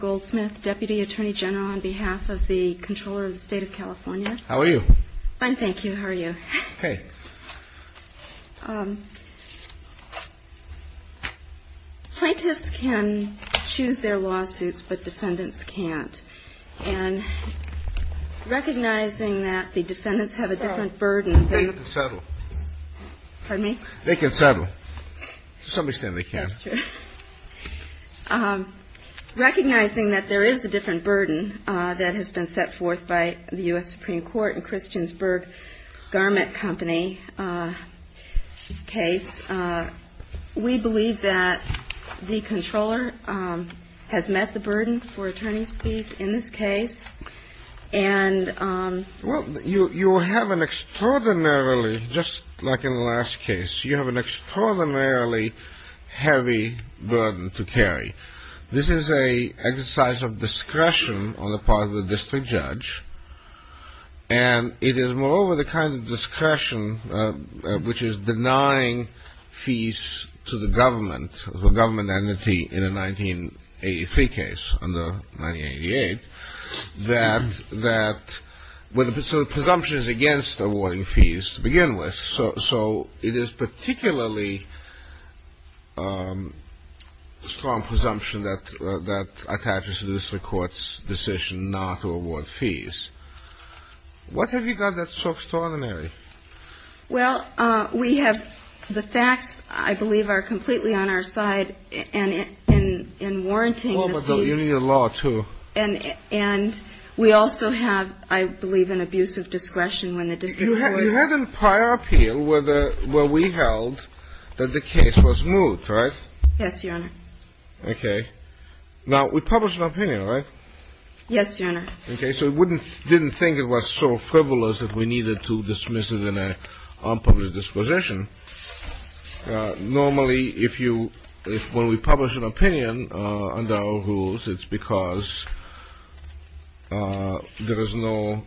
Goldsmith, Deputy Attorney General on behalf of the Comptroller of the State of California. How are you? Fine, thank you. How are you? Plaintiffs can choose their lawsuits, but defendants can't. And recognizing that the defendants have a different burden They can settle. Pardon me? They can settle. To some extent they can. That's true. Recognizing that there is a different burden that has been set forth by the U.S. Supreme Court in Christiansburg garment company case we believe that the Comptroller has met the burden for attorney's fees in this case and Well, you have an extraordinarily, just like in the last case you have an extraordinarily heavy burden to carry. This is an exercise of discretion on the part of the district judge and it is moreover the kind of discretion which is denying fees to the government the government entity in the 1983 case, under 1988 that, so the presumption is against awarding fees to begin with so it is particularly strong presumption that attaches to the district court's decision not to award fees. What have you done that's so extraordinary? Well, we have the facts, I believe, are completely on our side and in warranting the fees Oh, but you need a law too. And we also have, I believe, an abuse of discretion when the district court You had a prior appeal where we held that the case was moot, right? Yes, your honor. Okay. Now, we published an opinion, right? Yes, your honor. Okay, so we didn't think it was so frivolous that we needed to dismiss it in an unpublished disposition Normally, when we publish an opinion under our rules, it's because there is no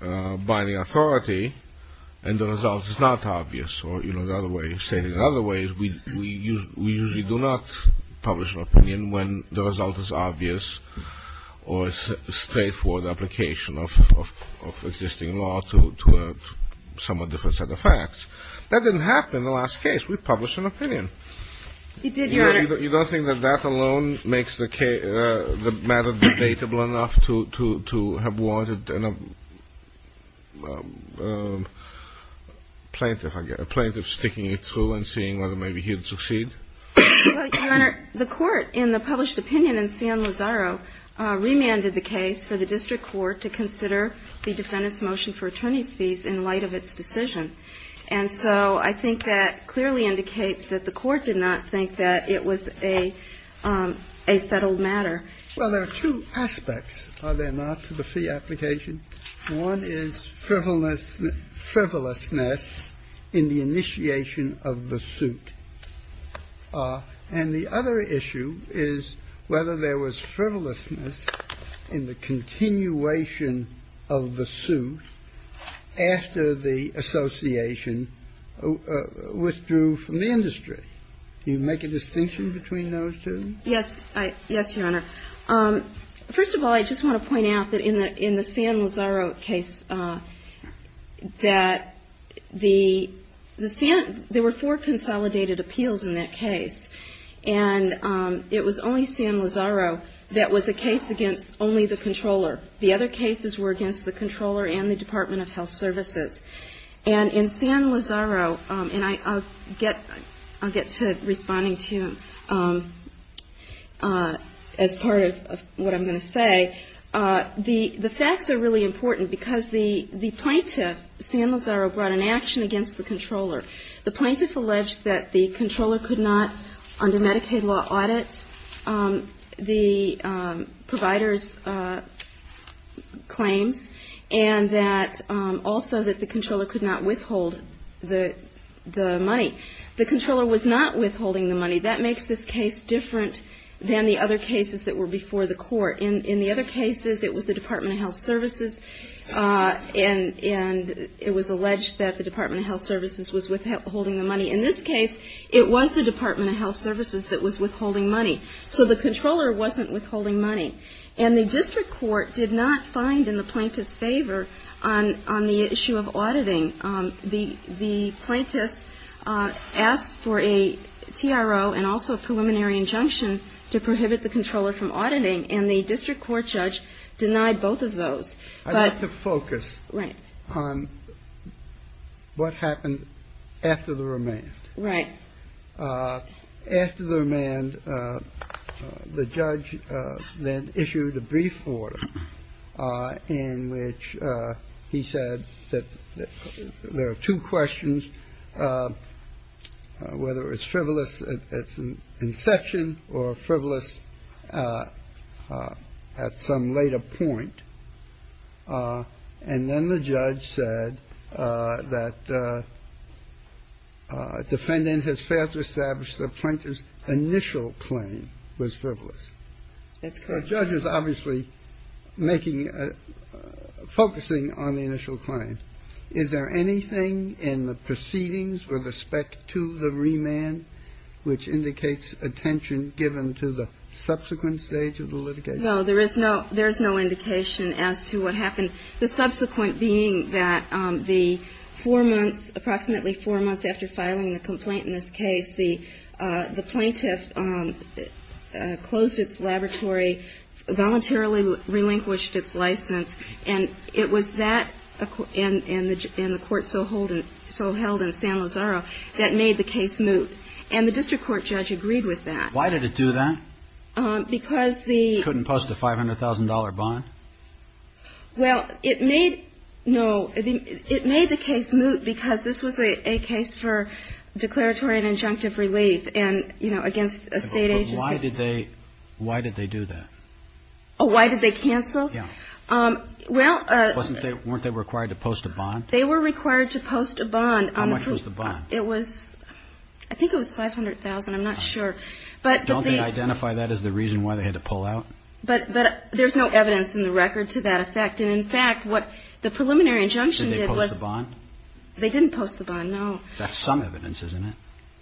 binding authority and the result is not obvious or in another way, we usually do not publish an opinion when the result is obvious or it's a straightforward application of existing law to a somewhat different set of facts. That didn't happen in the last case. We published an opinion. You did, your honor. You don't think that that alone makes the matter debatable enough to have warranted a plaintiff, I guess, a plaintiff sticking it through and seeing whether maybe he'd succeed? Well, your honor, the court in the published opinion in San Lazaro remanded the case for the district court to consider the defendant's motion for attorney's fees in light of its decision And so I think that clearly indicates that the court did not think that it was a settled matter. Well, there are two aspects, are there not, to the fee application? One is frivolousness in the initiation of the suit. And the other issue is whether there was frivolousness in the continuation of the suit after the association withdrew from the industry. Do you make a distinction between those two? Yes. Yes, your honor. First of all, I just want to point out that in the San Lazaro case that the San – there were four consolidated appeals in that case. And it was only San Lazaro that was a case against only the controller. The other cases were against the controller and the Department of Health Services. And in San Lazaro, and I'll get to responding to you as part of what I'm going to say, the facts are really important because the plaintiff, San Lazaro, brought an action against the controller. The plaintiff alleged that the controller could not, under Medicaid law, audit the provider's claims and that also that the controller could not withhold the money. The controller was not withholding the money. That makes this case different than the other cases that were before the court. In the other cases, it was the Department of Health Services, and it was alleged that the Department of Health Services was withholding the money. In this case, it was the Department of Health Services that was withholding money. So the controller wasn't withholding money. And the district court did not find in the plaintiff's favor on the issue of auditing. The plaintiff asked for a TRO and also a preliminary injunction to prohibit the controller from auditing, and the district court judge denied both of those. But the focus on what happened after the remand. Right. After the remand, the judge then issued a brief order in which he said that there are two questions, whether it's frivolous at inception or frivolous at some later point. And then the judge said that defendant has failed to establish the plaintiff's initial claim was frivolous. That's correct. The judge is obviously making a – focusing on the initial claim. Is there anything in the proceedings with respect to the remand which indicates attention given to the subsequent stage of the litigation? No. There is no indication as to what happened. The subsequent being that the four months, approximately four months after filing the complaint in this case, the plaintiff closed its laboratory, voluntarily relinquished its license. And it was that and the court so held in San Lazaro that made the case moot. And the district court judge agreed with that. Why did it do that? Because the – Because they couldn't post a $500,000 bond? Well, it made – no. It made the case moot because this was a case for declaratory and injunctive relief and, you know, against a state agency. But why did they – why did they do that? Oh, why did they cancel? Yeah. Well – Weren't they required to post a bond? They were required to post a bond. How much was the bond? It was – I think it was $500,000. I'm not sure. Don't they identify that as the reason why they had to pull out? But there's no evidence in the record to that effect. And, in fact, what the preliminary injunction did was – Did they post the bond? They didn't post the bond, no. That's some evidence, isn't it?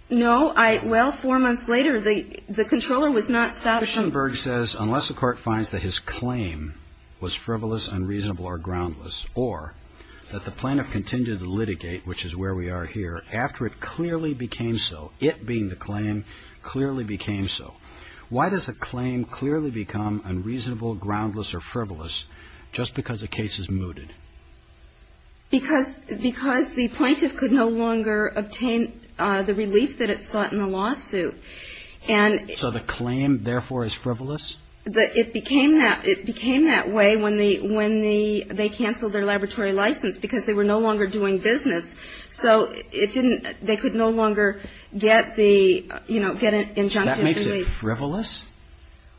No. Well, four months later, the controller was not stopped from – Schoenberg says unless the court finds that his claim was frivolous, unreasonable, or groundless, or that the plaintiff continued to litigate, which is where we are here, after it clearly became so, it being the claim, clearly became so. Why does a claim clearly become unreasonable, groundless, or frivolous just because the case is mooted? Because – because the plaintiff could no longer obtain the relief that it sought in the lawsuit. And – So the claim, therefore, is frivolous? It became that – it became that way when the – when they canceled their laboratory license because they were no longer doing business. So it didn't – they could no longer get the – you know, get injuncted relief. So that makes it frivolous?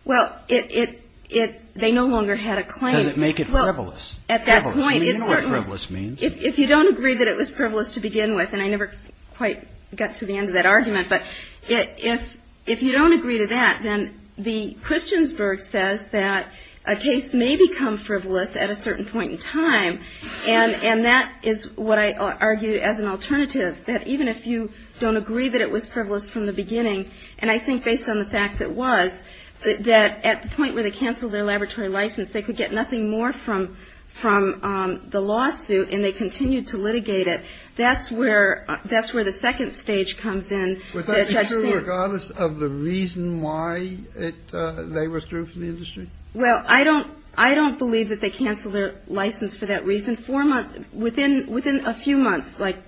Well, it – it – they no longer had a claim. Does it make it frivolous? Well, at that point, it certainly – Frivolous. We know what frivolous means. If you don't agree that it was frivolous to begin with, and I never quite got to the end of that argument, but if – if you don't agree to that, then the – Christiansberg says that a case may become frivolous at a certain point in time, and – and that is what I argued as an alternative, that even if you don't agree that it was frivolous from the beginning, and I think based on the facts it was, that at the point where they canceled their laboratory license, they could get nothing more from – from the lawsuit, and they continued to litigate it. That's where – that's where the second stage comes in that Judge Seward – Was that true regardless of the reason why it – they withdrew from the industry? Well, I don't – I don't believe that they canceled their license for that reason. Four months – within – within a few months, like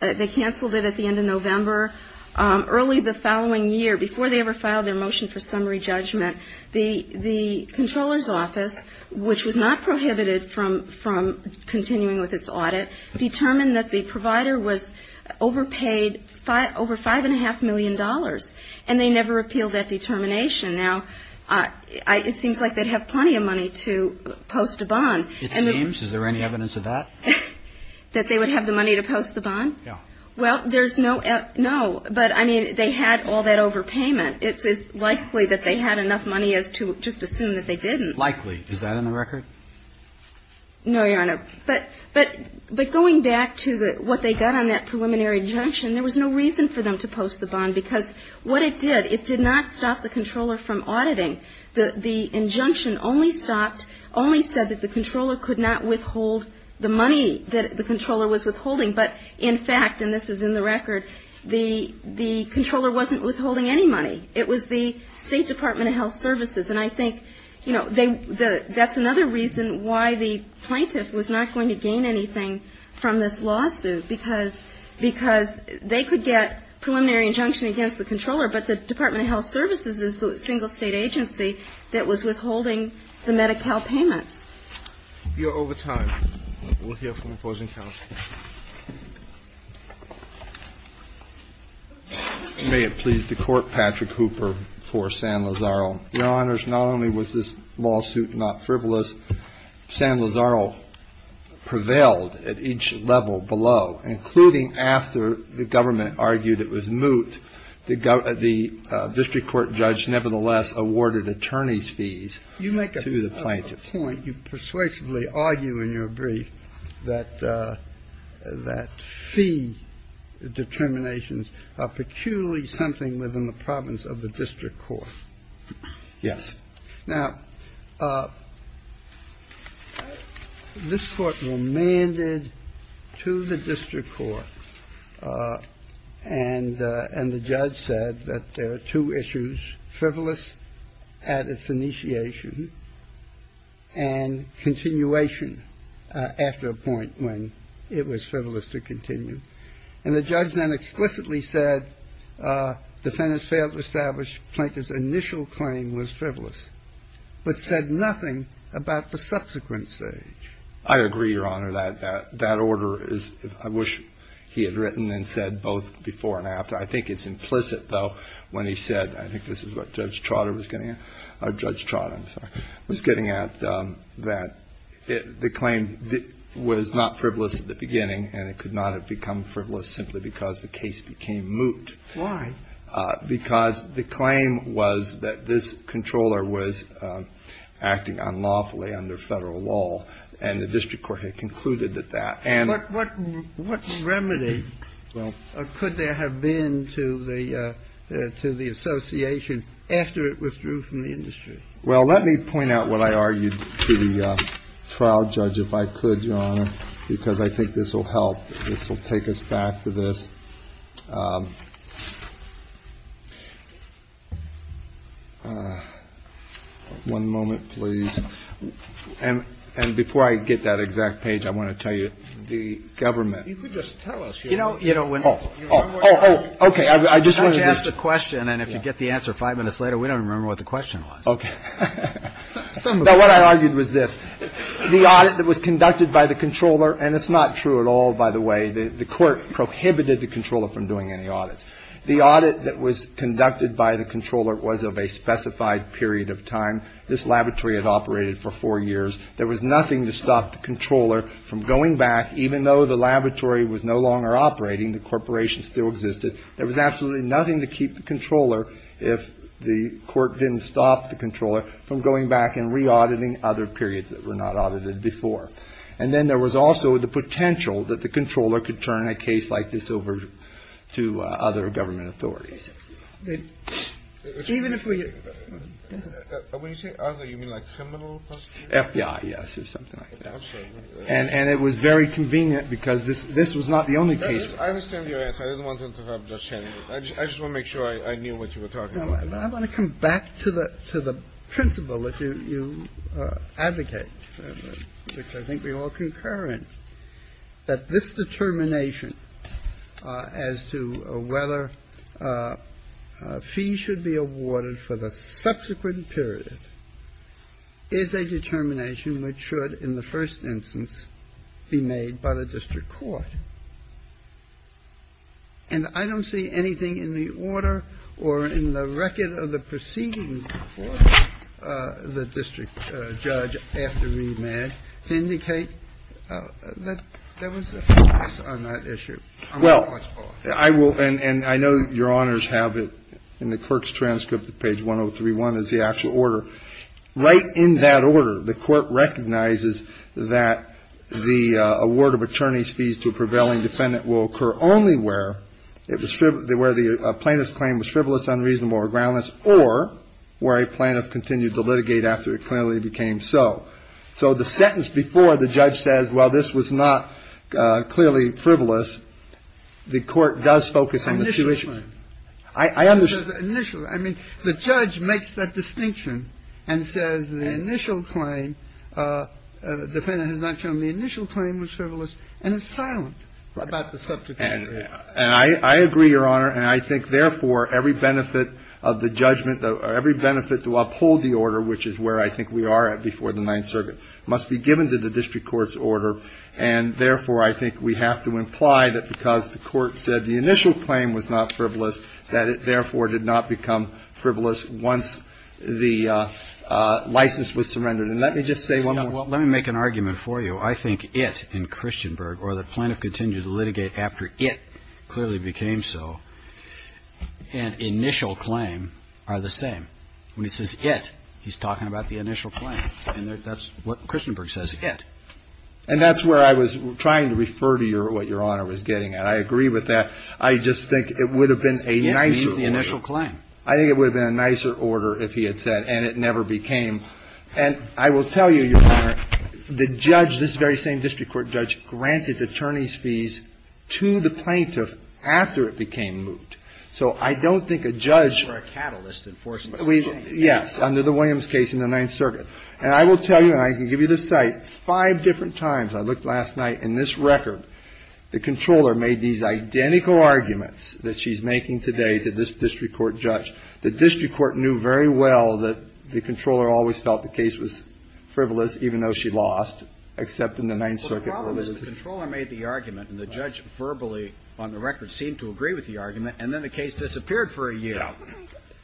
they canceled it at the end of November. Early the following year, before they ever filed their motion for summary judgment, the – the Comptroller's Office, which was not prohibited from – from continuing with its audit, determined that the provider was overpaid over $5.5 million, and they never repealed that determination. Now, I – it seems like they'd have plenty of money to post a bond. It seems? Is there any evidence of that? That they would have the money to post the bond? Yeah. Well, there's no – no. But, I mean, they had all that overpayment. It's – it's likely that they had enough money as to just assume that they didn't. Likely. Is that on the record? No, Your Honor. But – but – but going back to the – what they got on that preliminary injunction, there was no reason for them to post the bond, because what it did, it did not stop the Comptroller from auditing. The – the injunction only stopped – only said that the Comptroller could not withhold the money that the Comptroller was withholding. But, in fact, and this is in the record, the – the Comptroller wasn't withholding any money. It was the State Department of Health Services. And I think, you know, they – that's another reason why the plaintiff was not going to gain anything from this lawsuit, because – because they could get preliminary injunction against the Comptroller, but the Department of Health Services is the single State agency that was withholding the Medi-Cal payments. You're over time. We'll hear from the opposing counsel. May it please the Court, Patrick Hooper, for San Lazaro. Your Honors, not only was this lawsuit not frivolous, San Lazaro prevailed at each You make a point. You persuasively argue in your brief that – that fee determinations are peculiarly something within the province of the district court. Yes. Now, this Court remanded to the district court, and the judge said that there are two issues, frivolous at its initiation and continuation after a point when it was frivolous to continue. And the judge then explicitly said defendants failed to establish Plaintiff's initial claim was frivolous, but said nothing about the subsequent stage. I agree, Your Honor. That – that order is – I wish he had written and said both before and after. I think it's implicit, though, when he said – I think this is what Judge Trotter was getting at. Oh, Judge Trotter, I'm sorry. Was getting at that the claim was not frivolous at the beginning, and it could not have become frivolous simply because the case became moot. Why? Because the claim was that this controller was acting unlawfully under Federal law, and the district court had concluded that that. And what – what remedy could there have been to the – to the association after it withdrew from the industry? Well, let me point out what I argued to the trial judge, if I could, Your Honor, because I think this will help. This will take us back to this. One moment, please. And – and before I get that exact page, I want to tell you the government. You could just tell us, Your Honor. You know, when – Oh. Oh. Oh. Oh. Oh. Oh. Oh. Oh. Oh. Oh. Well, let me just finish, and then if you get the answer 5 minutes later, we don't even remember what the question was. Okay. Now, what I argued was this. The audit that was conducted by the controller, and it's not true at all, by the way. The court prohibited the controller from doing any audits. The audit that was conducted by the controller was of a specified period of time. This laboratory had operated for 4 years. There was nothing to stop the controller from going back, even though the laboratory was no longer operating, the corporation still existed. There was absolutely nothing to keep the controller if the court didn't stop the controller from going back and re-auditing other periods that were not audited before. And then there was also the potential that the controller could turn a case like this over to other government authorities. Even if we – When you say other, you mean like criminal? FBI, yes, or something like that. And it was very convenient because this was not the only case. I understand your answer. I just want to make sure I knew what you were talking about. I want to come back to the principle that you advocate, which I think we all concur in, that this determination as to whether a fee should be awarded for the subsequent period is a determination which should in the first instance be made by the district court. And I don't see anything in the order or in the record of the proceedings before the district judge after remand to indicate that there was a focus on that issue. Well, I will – and I know Your Honors have it in the clerk's transcript that page So the sentence before the judge says while this was not clearly frivolous, the court does focus on the situation. Initial claim. I understand. Initial. I mean, the judge makes that distinction and says the initial claim, defendant has not shown the initial claim was frivolous and is silent about the subject matter. And I agree, Your Honor, and I think therefore every benefit of the judgment, every benefit to uphold the order, which is where I think we are at before the Ninth Circuit, must be given to the district court's order. And therefore I think we have to imply that because the court said the initial claim was not frivolous, that it therefore did not become frivolous once the license was surrendered. And let me just say one more. Let me make an argument for you. I think it in Christianburg or the plaintiff continued to litigate after it clearly became so, an initial claim are the same. When he says it, he's talking about the initial claim. And that's what Christianburg says, it. And that's where I was trying to refer to what Your Honor was getting at. I agree with that. I just think it would have been a nicer order. It means the initial claim. I think it would have been a nicer order if he had said and it never became. And I will tell you, Your Honor, the judge, this very same district court judge, granted attorney's fees to the plaintiff after it became moot. So I don't think a judge or a catalyst enforced this. Yes, under the Williams case in the Ninth Circuit. And I will tell you, and I can give you the site, five different times I looked last night in this record, the controller made these identical arguments that she's making today to this district court judge. The district court knew very well that the controller always felt the case was frivolous, even though she lost, except in the Ninth Circuit. The problem is the controller made the argument and the judge verbally, on the record, seemed to agree with the argument. And then the case disappeared for a year.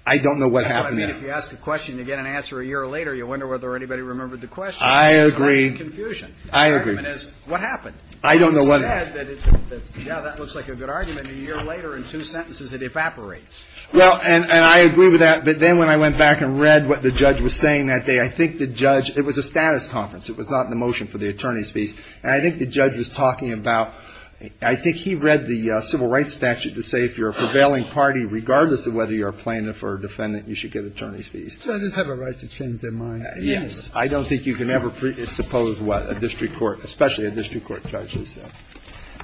I don't know what happened then. If you ask the question again and answer a year later, you wonder whether anybody remembered the question. I agree. It's a lot of confusion. I agree. The argument is, what happened? I don't know whether. He said that, yeah, that looks like a good argument. A year later, in two sentences, it evaporates. Well, and I agree with that. But then when I went back and read what the judge was saying that day, I think the judge – it was a status conference. It was not the motion for the attorney's fees. And I think the judge was talking about – I think he read the civil rights statute to say if you're a prevailing party, regardless of whether you're a plaintiff or a defendant, you should get attorney's fees. Judges have a right to change their mind. Yes. I don't think you can ever suppose what a district court – especially a district court judge has said.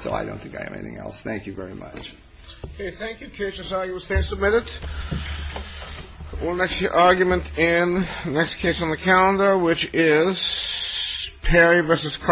So I don't think I have anything else. Thank you very much. Okay. Thank you. KHSI. You will stand submitted. We'll next hear argument in the next case on the calendar, which is Perry v. Cross.